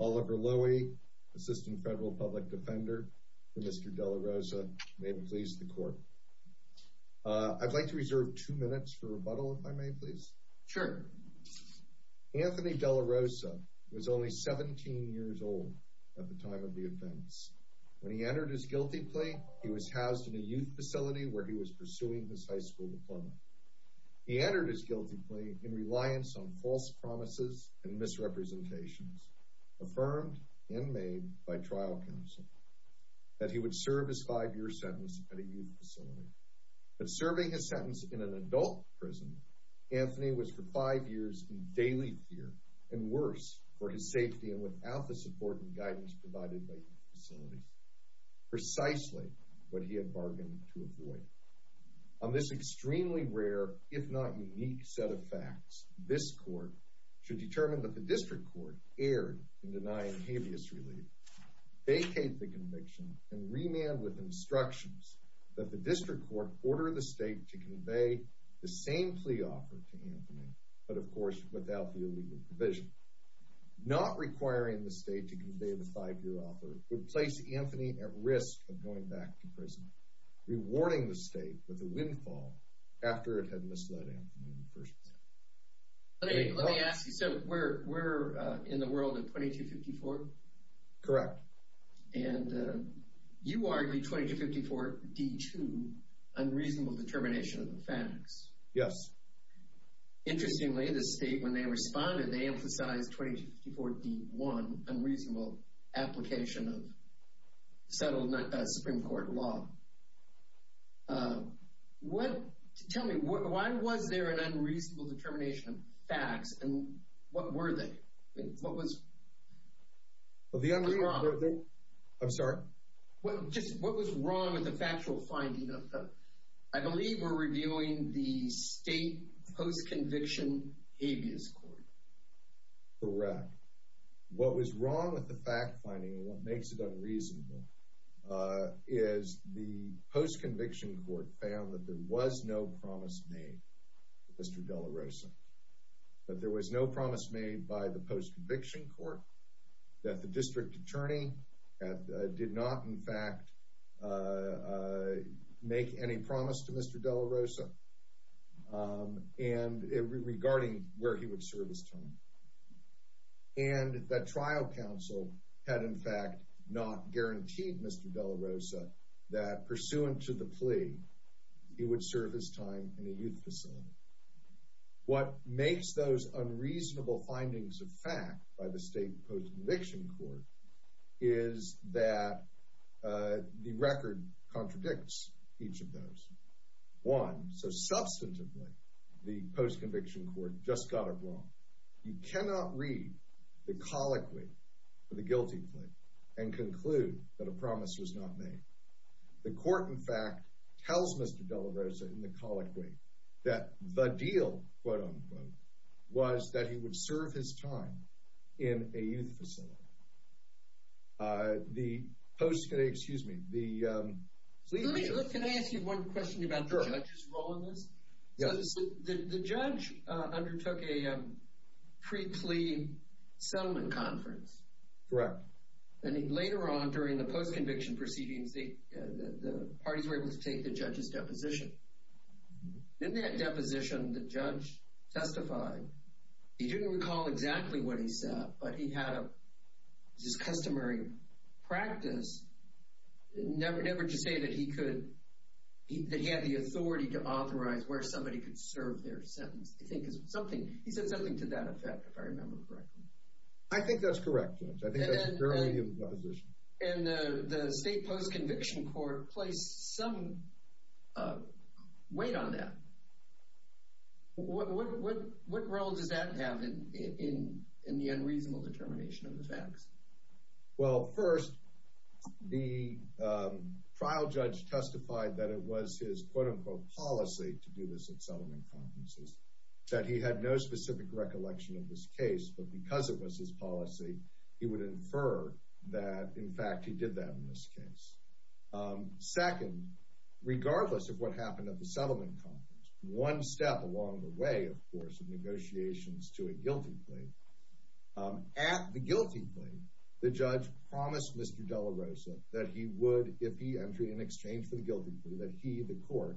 Oliver Lowy, Assistant Federal Public Defender for Mr. DelaRosa, may it please the Court. I'd like to reserve two minutes for rebuttal, if I may please. Sure. Anthony DelaRosa was only 17 years old at the time of the offense. When he entered his guilty plea, he was housed in a youth facility where he was pursuing his high school diploma. He entered his guilty plea in reliance on false promises and misrepresentations, affirmed and made by trial counsel, that he would serve his five-year sentence at a youth facility. But serving his sentence in an adult prison, Anthony was for five years in daily fear, and worse, for his safety and without the support and guidance provided by youth facilities, precisely what he had bargained to avoid. On this extremely rare, if not unique, set of facts, this Court should determine that the District Court erred in denying habeas relief, vacate the conviction, and remand with instructions that the District Court order the State to convey the same plea offer to Anthony, but of course without the illegal provision. Not requiring the State to convey the five-year offer would place Anthony at risk of going back to prison, rewarding the State with a windfall after it had misled Anthony in the first place. Let me ask you, so we're in the world of 2254? Correct. And you argue 2254d-2, unreasonable determination of the facts. Yes. Interestingly, the State, when they responded, they emphasized 2254d-1, unreasonable application of settled Supreme Court law. Tell me, why was there an unreasonable determination of facts, and what were they? What was wrong? I'm sorry? What was wrong with the factual finding of the, I believe we're reviewing the State Post-Conviction Habeas Court. Correct. What was wrong with the fact finding, and what makes it unreasonable, is the Post-Conviction Court found that there was no promise made to Mr. De La Rosa. That there was no promise made by the Post-Conviction Court. That the District Attorney did not, in fact, make any promise to Mr. De La Rosa, regarding where he would serve his time. And that trial counsel had, in fact, not guaranteed Mr. De La Rosa that, pursuant to the plea, he would serve his time in a youth facility. What makes those unreasonable findings of fact, by the State Post-Conviction Court, is that the record contradicts each of those. One, so substantively, the Post-Conviction Court just got it wrong. You cannot read the colloquy for the guilty plea, and conclude that a promise was not made. The court, in fact, tells Mr. De La Rosa, in the colloquy, that the deal, quote-unquote, was that he would serve his time in a youth facility. The Post, excuse me, the... Let me, can I ask you one question about the judge's role in this? Yeah. The judge undertook a pre-plea settlement conference. Correct. And then later on, during the post-conviction proceedings, the parties were able to take the judge's deposition. In that deposition, the judge testified. He didn't recall exactly what he said, but he had his customary practice, never to say that he could, that he had the authority to authorize where somebody could serve their sentence. I think it's something, he said something to that effect, if I remember correctly. I think that's correct, Judge. I think that's a fairly good position. And the state post-conviction court placed some weight on that. What role does that have in the unreasonable determination of the facts? Well, first, the trial judge testified that it was his, quote-unquote, policy to do this at settlement conferences, that he had no specific recollection of this case, but because it was his policy, he would infer that, in fact, he did that in this case. Second, regardless of what happened at the settlement conference, one step along the way, of course, of negotiations to a guilty plea, at the guilty plea, the judge promised Mr. De La Rosa that he would, if he entered in exchange for the guilty plea, that he, the court,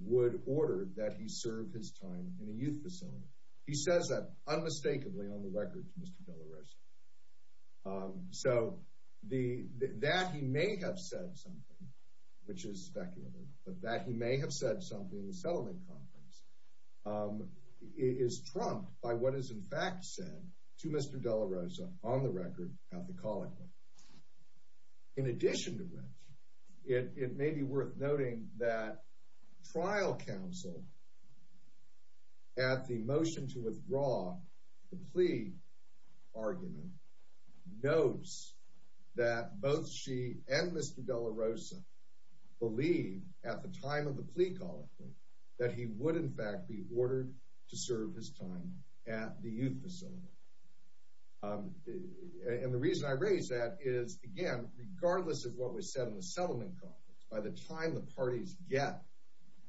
would order that he serve his time in a youth facility. He says that unmistakably on the record to Mr. De La Rosa. So that he may have said something, which is speculative, but that he may have said something at the settlement conference is trumped by what is, in fact, said to Mr. De La Rosa on the record at the calling. In addition to which, it may be worth noting that trial counsel, at the motion to withdraw the plea argument, notes that both she and Mr. De La Rosa believe, at the time of the plea calling, that he would, in fact, be ordered to serve his time at the youth facility. And the reason I raise that is, again, regardless of what was said in the settlement conference, by the time the parties get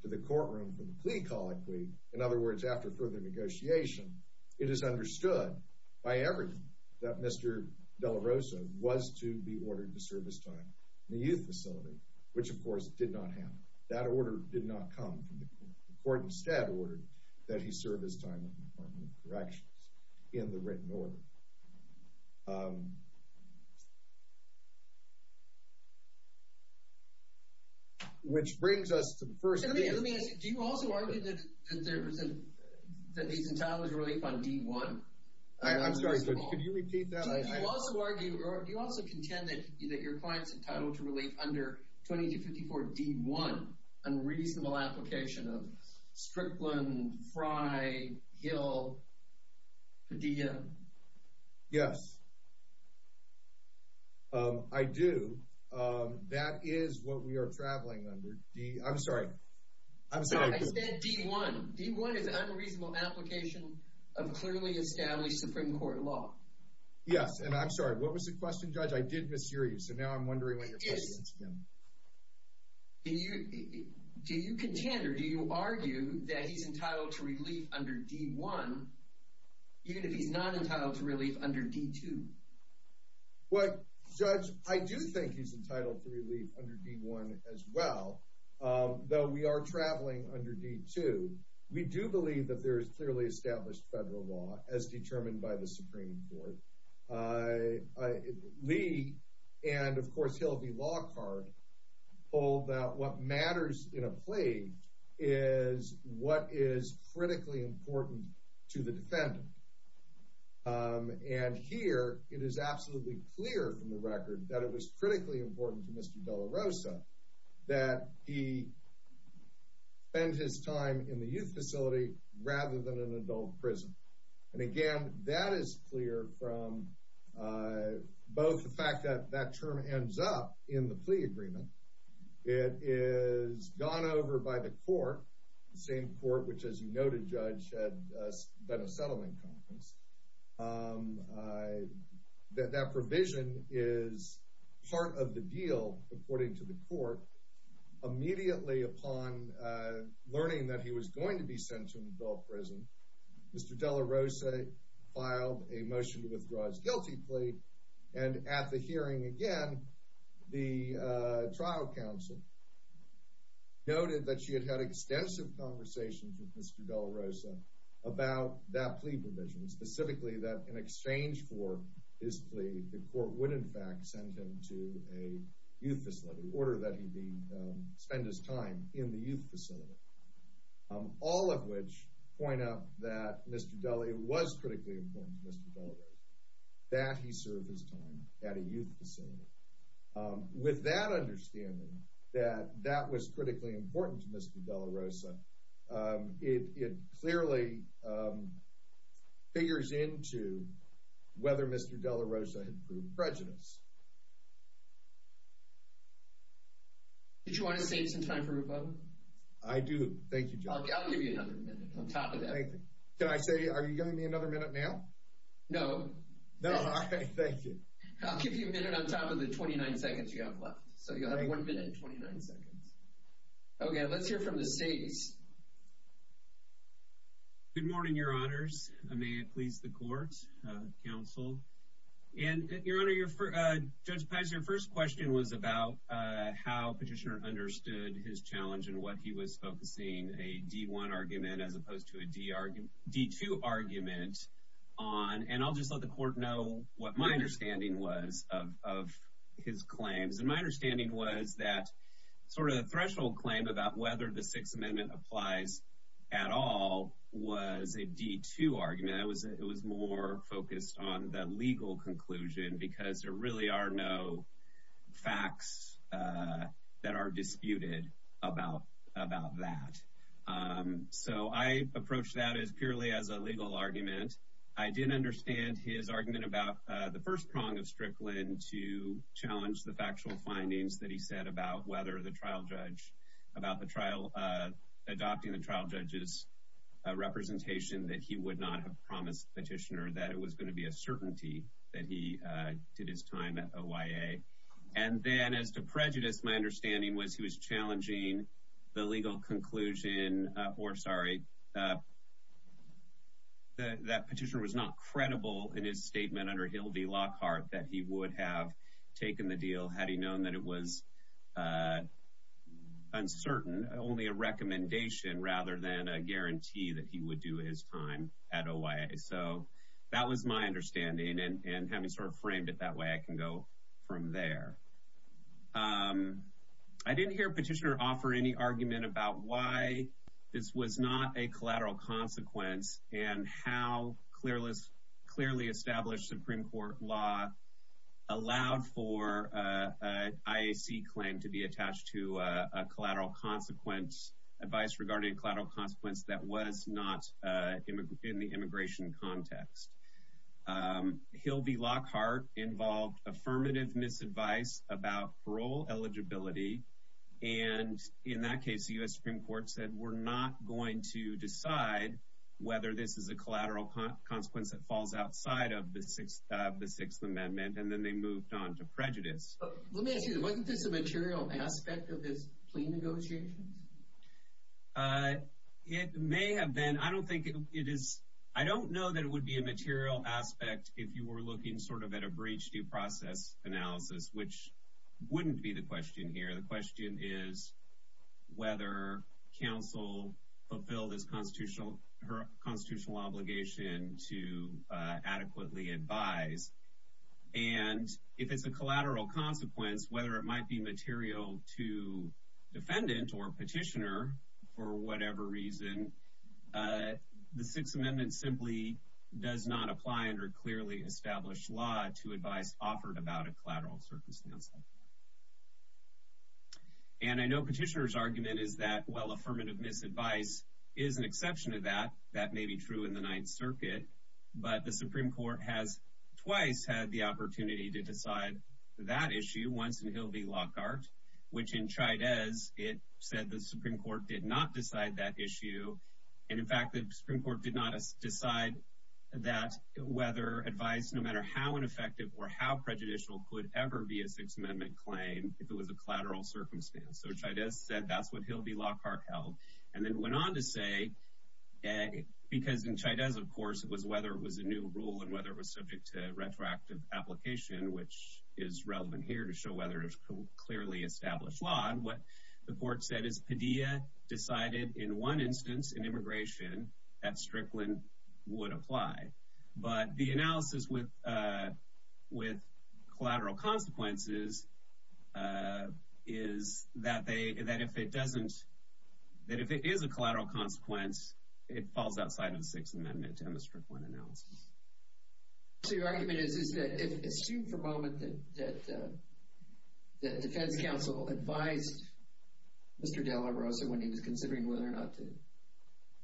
to the courtroom for the plea calling plea, in other words, after further negotiation, it is understood by everyone that Mr. De La Rosa was to be ordered to serve his time in a youth facility, which, of course, did not happen. That order did not come from the court. The court instead ordered that he serve his time in the Department of Corrections in the written order, which brings us to the first case. Do you also argue that he's entitled to relief on D-1? I'm sorry, could you repeat that? Do you also contend that your client's entitled to relief under 2254 D-1, unreasonable application of Strickland, Fry, Hill, Padilla? Yes, I do. That is what we are traveling under. I'm sorry. I'm sorry. I said D-1. D-1 is an unreasonable application of clearly established Supreme Court law. Yes, and I'm sorry, what was the question, Judge? I did mishear you, so now I'm wondering what your question is again. Do you contend or do you argue that he's entitled to relief under D-1, even if he's not entitled to relief under D-2? Well, Judge, I do think he's entitled to relief under D-1 as well, though we are traveling under D-2. We do believe that there is clearly established federal law as determined by the Supreme Court. Lee and, of course, Hilvey Lockhart hold that what matters in a plea is what is critically important to the defendant. And here, it is absolutely clear from the record that it was critically important to Mr. De La Rosa that he spend his time in the youth facility rather than an adult prison. And, again, that is clear from both the fact that that term ends up in the plea agreement. It is gone over by the court, the same court which, as you noted, Judge, had done a settlement conference. That provision is part of the deal, according to the court. Immediately upon learning that he was going to be sent to an adult prison, Mr. De La Rosa filed a motion to withdraw his guilty plea. And at the hearing, again, the trial counsel noted that she had had extensive conversations with Mr. De La Rosa about that plea provision, specifically that in exchange for his plea, the court would, in fact, send him to a youth facility in order that he spend his time in the youth facility, all of which point out that it was critically important to Mr. De La Rosa that he serve his time at a youth facility. With that understanding, that that was critically important to Mr. De La Rosa, it clearly figures into whether Mr. De La Rosa had proved prejudiced. Did you want to save some time for Rupo? I do. Thank you, Judge. I'll give you another minute on top of that. Can I say, are you giving me another minute now? No. No? Okay, thank you. I'll give you a minute on top of the 29 seconds you have left. So you'll have one minute and 29 seconds. Okay, let's hear from the states. Good morning, Your Honors. May it please the court, counsel. And, Your Honor, Judge Paz, your first question was about how Petitioner understood his challenge and what he was focusing a D-1 argument as opposed to a D-2 argument on. And I'll just let the court know what my understanding was of his claims. And my understanding was that sort of the threshold claim about whether the Sixth Amendment applies at all was a D-2 argument. It was more focused on the legal conclusion because there really are no facts that are disputed about that. So I approached that as purely as a legal argument. I did understand his argument about the first prong of Strickland to challenge the factual findings that he said about whether the trial judge – about the trial – adopting the trial judge's representation that he would not have promised Petitioner that it was going to be a certainty that he did his time at OYA. And then, as to prejudice, my understanding was he was challenging the legal conclusion – or, sorry, that Petitioner was not credible in his statement under Hildy Lockhart that he would have taken the deal had he known that it was uncertain, only a recommendation rather than a guarantee that he would do his time at OYA. So that was my understanding, and having sort of framed it that way, I can go from there. I didn't hear Petitioner offer any argument about why this was not a collateral consequence and how clearly established Supreme Court law allowed for an IAC claim to be attached to a collateral consequence – advice regarding a collateral consequence that was not in the immigration context. Hildy Lockhart involved affirmative misadvice about parole eligibility, and in that case, the U.S. Supreme Court said, we're not going to decide whether this is a collateral consequence that falls outside of the Sixth Amendment, and then they moved on to prejudice. Let me ask you, wasn't this a material aspect of his plea negotiations? It may have been. I don't think it is – I don't know that it would be a material aspect if you were looking sort of at a breach due process analysis, which wouldn't be the question here. The question is whether counsel fulfilled his constitutional – her constitutional obligation to adequately advise, and if it's a collateral consequence, whether it might be material to defendant or petitioner for whatever reason, the Sixth Amendment simply does not apply under clearly established law to advice offered about a collateral circumstance. And I know Petitioner's argument is that, well, affirmative misadvice is an exception to that. That may be true in the Ninth Circuit, but the Supreme Court has twice had the opportunity to decide that issue, once in Hildy Lockhart, which in Chaidez, it said the Supreme Court did not decide that issue. And in fact, the Supreme Court did not decide that whether advice, no matter how ineffective or how prejudicial, could ever be a Sixth Amendment claim if it was a collateral circumstance. So Chaidez said that's what Hildy Lockhart held. And then went on to say – because in Chaidez, of course, it was whether it was a new rule and whether it was subject to retroactive application, which is relevant here to show whether it was clearly established law. And what the court said is Padilla decided in one instance in immigration that Strickland would apply. But the analysis with collateral consequences is that if it doesn't – that if it is a collateral consequence, it falls outside of the Sixth Amendment to Mr. Strickland's analysis. So your argument is, is that if – assume for a moment that the defense counsel advised Mr. De La Rosa when he was considering whether or not to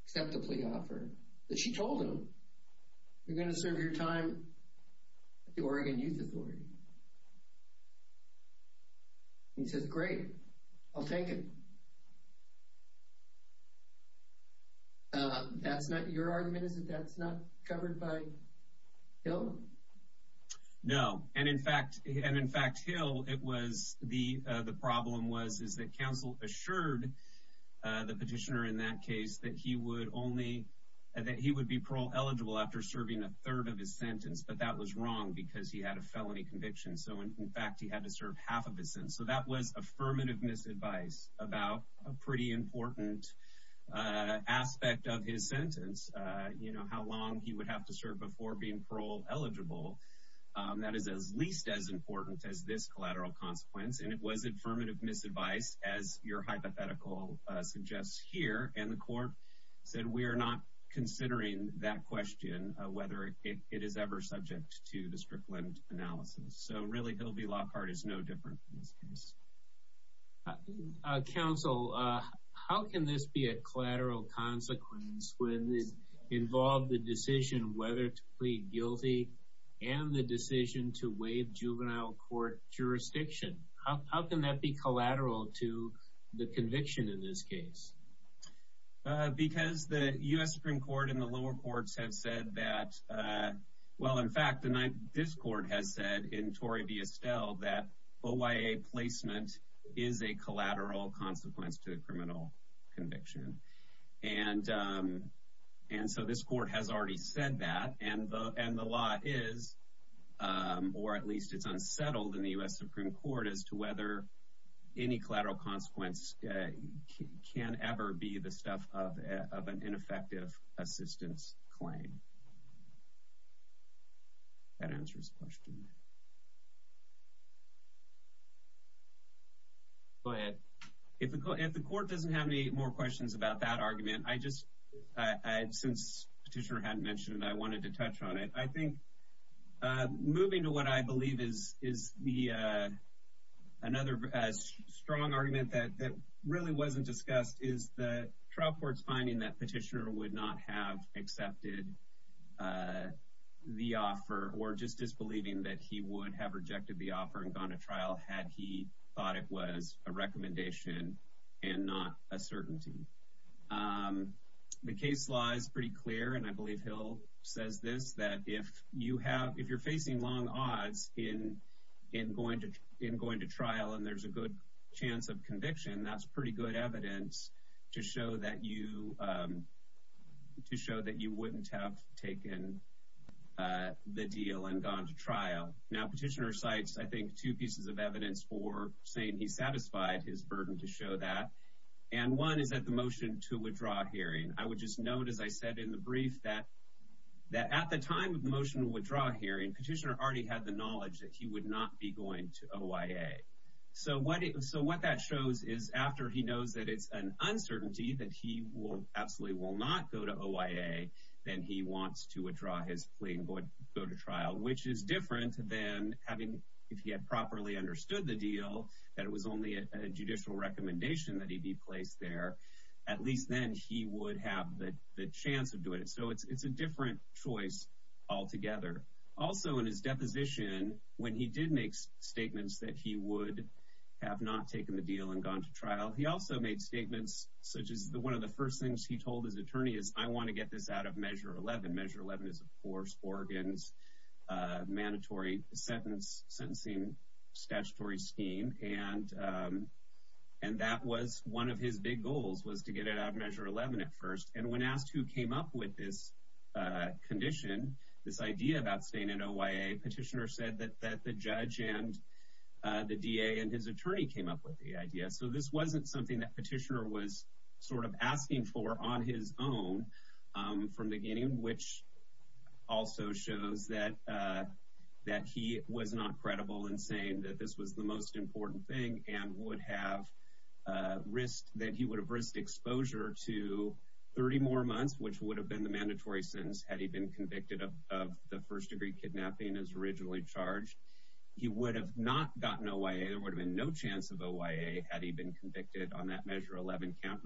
accept the plea offer, that she told him, you're going to serve your time at the Oregon Youth Authority. He says, great, I'll take it. That's not – your argument is that that's not covered by Hill? No. And in fact, Hill, it was – the problem was, is that counsel assured the petitioner in that case that he would only – that he would be parole-eligible after serving a third of his sentence. But that was wrong because he had a felony conviction. So in fact, he had to serve half of his sentence. So that was affirmative misadvice about a pretty important aspect of his sentence, you know, how long he would have to serve before being parole-eligible. That is at least as important as this collateral consequence. And it was affirmative misadvice, as your hypothetical suggests here. And the court said, we are not considering that question, whether it is ever subject to the Strickland analysis. So really, Hill v. Lockhart is no different in this case. Counsel, how can this be a collateral consequence when it involved the decision whether to plead guilty and the decision to waive juvenile court jurisdiction? How can that be collateral to the conviction in this case? Because the U.S. Supreme Court and the lower courts have said that – well, in fact, this court has said in Tory v. Estelle that OIA placement is a collateral consequence to the criminal conviction. And so this court has already said that. And the law is – or at least it's unsettled in the U.S. Supreme Court as to whether any collateral consequence can ever be the stuff of an ineffective assistance claim. That answers the question. Go ahead. If the court doesn't have any more questions about that argument, I just – since Petitioner hadn't mentioned it, I wanted to touch on it. I think moving to what I believe is the – another strong argument that really wasn't discussed is the trial court's finding that Petitioner would not have accepted the offer or just disbelieving that he would have rejected the offer and gone to trial had he thought it was a recommendation and not a certainty. The case law is pretty clear, and I believe Hill says this, that if you have – if you're facing long odds in going to trial and there's a good chance of conviction, that's pretty good evidence to show that you – to show that you wouldn't have taken the deal and gone to trial. Now, Petitioner cites, I think, two pieces of evidence for saying he satisfied his burden to show that. And one is that the motion to withdraw hearing. I would just note, as I said in the brief, that at the time of the motion to withdraw hearing, Petitioner already had the knowledge that he would not be going to OIA. So what that shows is after he knows that it's an uncertainty that he absolutely will not go to OIA, then he wants to withdraw his plea and go to trial, which is different than having – if he had properly understood the deal, that it was only a judicial recommendation that he be placed there, at least then he would have the chance of doing it. So it's a different choice altogether. Also, in his deposition, when he did make statements that he would have not taken the deal and gone to trial, he also made statements such as one of the first things he told his attorney is, I want to get this out of Measure 11. Measure 11 is, of course, Oregon's mandatory sentencing statutory scheme. And that was one of his big goals was to get it out of Measure 11 at first. And when asked who came up with this condition, this idea about staying in OIA, Petitioner said that the judge and the DA and his attorney came up with the idea. So this wasn't something that Petitioner was sort of asking for on his own from the beginning, which also shows that he was not credible in saying that this was the most important thing and would have risked – that he would have risked exposure to 30 more months, which would have been the mandatory sentence had he been convicted of the first-degree kidnapping as originally charged. He would have not gotten OIA. There would have been no chance of OIA had he been convicted on that Measure 11 count,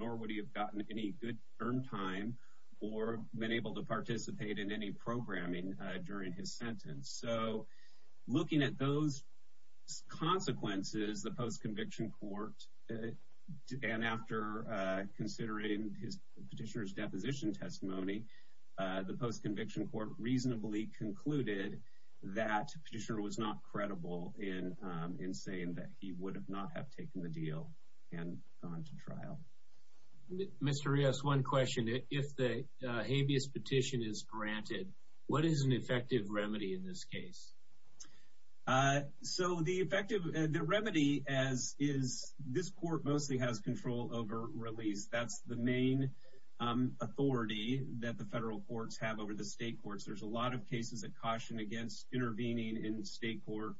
or been able to participate in any programming during his sentence. So looking at those consequences, the post-conviction court, and after considering Petitioner's deposition testimony, the post-conviction court reasonably concluded that Petitioner was not credible in saying that he would not have taken the deal and gone to trial. Mr. Rios, one question. If the habeas petition is granted, what is an effective remedy in this case? So the effective remedy is this court mostly has control over release. That's the main authority that the federal courts have over the state courts. There's a lot of cases that caution against intervening in state court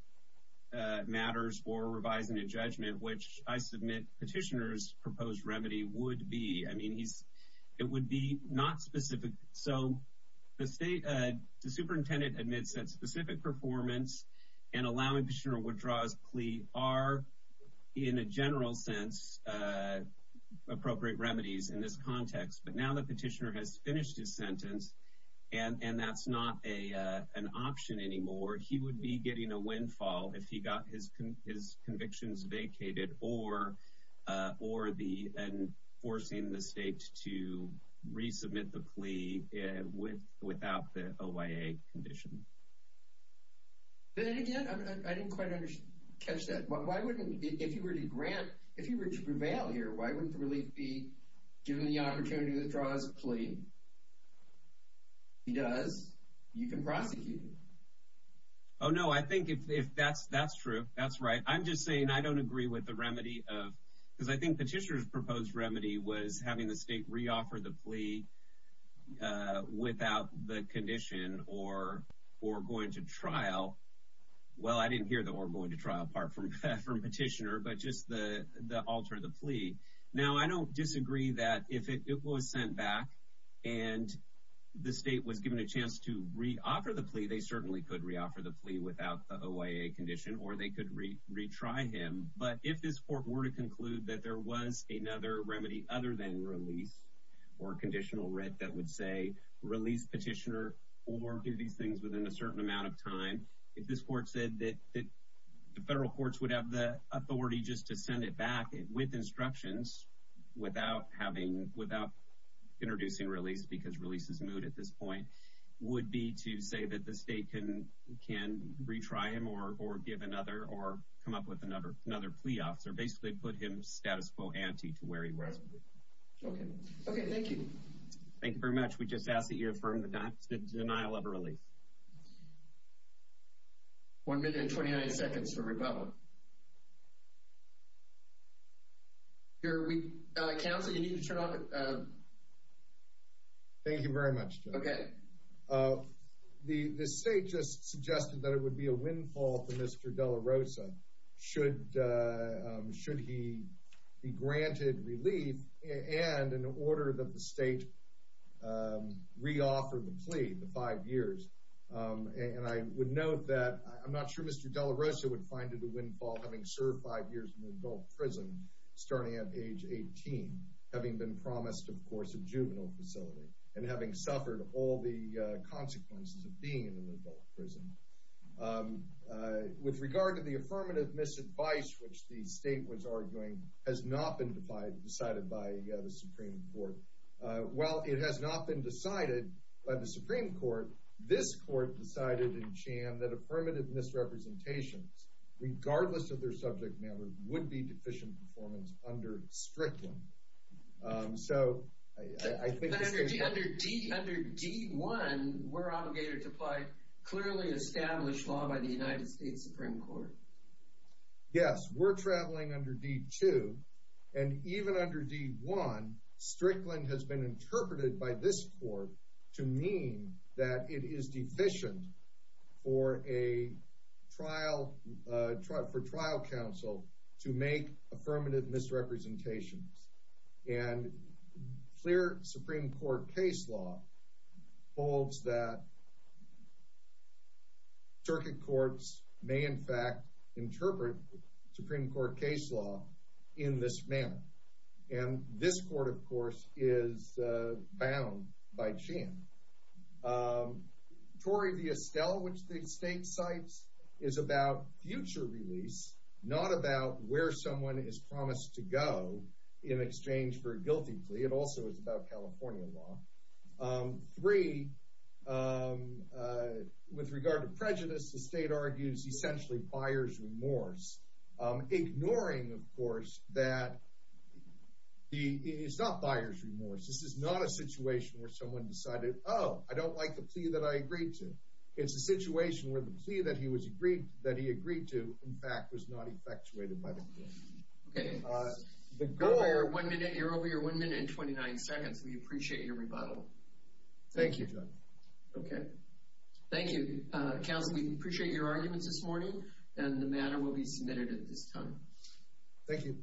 matters or revising a judgment, which I submit Petitioner's proposed remedy would be. I mean, it would be not specific. So the superintendent admits that specific performance and allowing Petitioner to withdraw his plea are, in a general sense, appropriate remedies in this context. But now that Petitioner has finished his sentence, and that's not an option anymore, he would be getting a windfall if he got his convictions vacated or forcing the state to resubmit the plea without the OIA condition. Then again, I didn't quite catch that. If he were to prevail here, why wouldn't the relief be given the opportunity to withdraw his plea? If he does, you can prosecute him. Oh, no, I think if that's true, that's right. I'm just saying I don't agree with the remedy of because I think Petitioner's proposed remedy was having the state reoffer the plea without the condition or going to trial. Well, I didn't hear the or going to trial part from Petitioner, but just the alter the plea. Now, I don't disagree that if it was sent back and the state was given a chance to reoffer the plea, they certainly could reoffer the plea without the OIA condition, or they could retry him. But if this court were to conclude that there was another remedy other than release or conditional writ that would say release Petitioner or do these things within a certain amount of time, if this court said that the federal courts would have the authority just to send it back with instructions without introducing release because release is moot at this point, would be to say that the state can retry him or give another or come up with another plea officer, basically put him status quo ante to where he was. Okay, thank you. Thank you very much. We just ask that you affirm the denial of a relief. One minute and 29 seconds for rebuttal. Counsel, you need to turn off. Thank you very much, Joe. Okay. The state just suggested that it would be a windfall for Mr. De La Rosa should he be granted relief and an order that the state reoffer the plea, the five years. And I would note that I'm not sure Mr. De La Rosa would find it a windfall having served five years in an adult prison starting at age 18, having been promised, of course, a juvenile facility and having suffered all the consequences of being in an adult prison. With regard to the affirmative misadvice, which the state was arguing, has not been decided by the Supreme Court. While it has not been decided by the Supreme Court, this court decided in Chan that affirmative misrepresentations, regardless of their subject matter, would be deficient performance under Strickland. So I think this case— Under D1, we're obligated to apply clearly established law by the United States Supreme Court. Yes, we're traveling under D2. And even under D1, Strickland has been interpreted by this court to mean that it is deficient for trial counsel to make affirmative misrepresentations. And clear Supreme Court case law holds that circuit courts may, in fact, interpret Supreme Court case law in this manner. And this court, of course, is bound by Chan. Tory v. Estelle, which the state cites, is about future release, not about where someone is promised to go in exchange for a guilty plea. It also is about California law. Three, with regard to prejudice, the state argues essentially buyer's remorse, ignoring, of course, that it's not buyer's remorse. This is not a situation where someone decided, oh, I don't like the plea that I agreed to. It's a situation where the plea that he agreed to, in fact, was not effectuated by the court. Okay. The go-ahead, you're over your 1 minute and 29 seconds. We appreciate your rebuttal. Thank you, John. Okay. Thank you. Counsel, we appreciate your arguments this morning, and the matter will be submitted at this time. Thank you.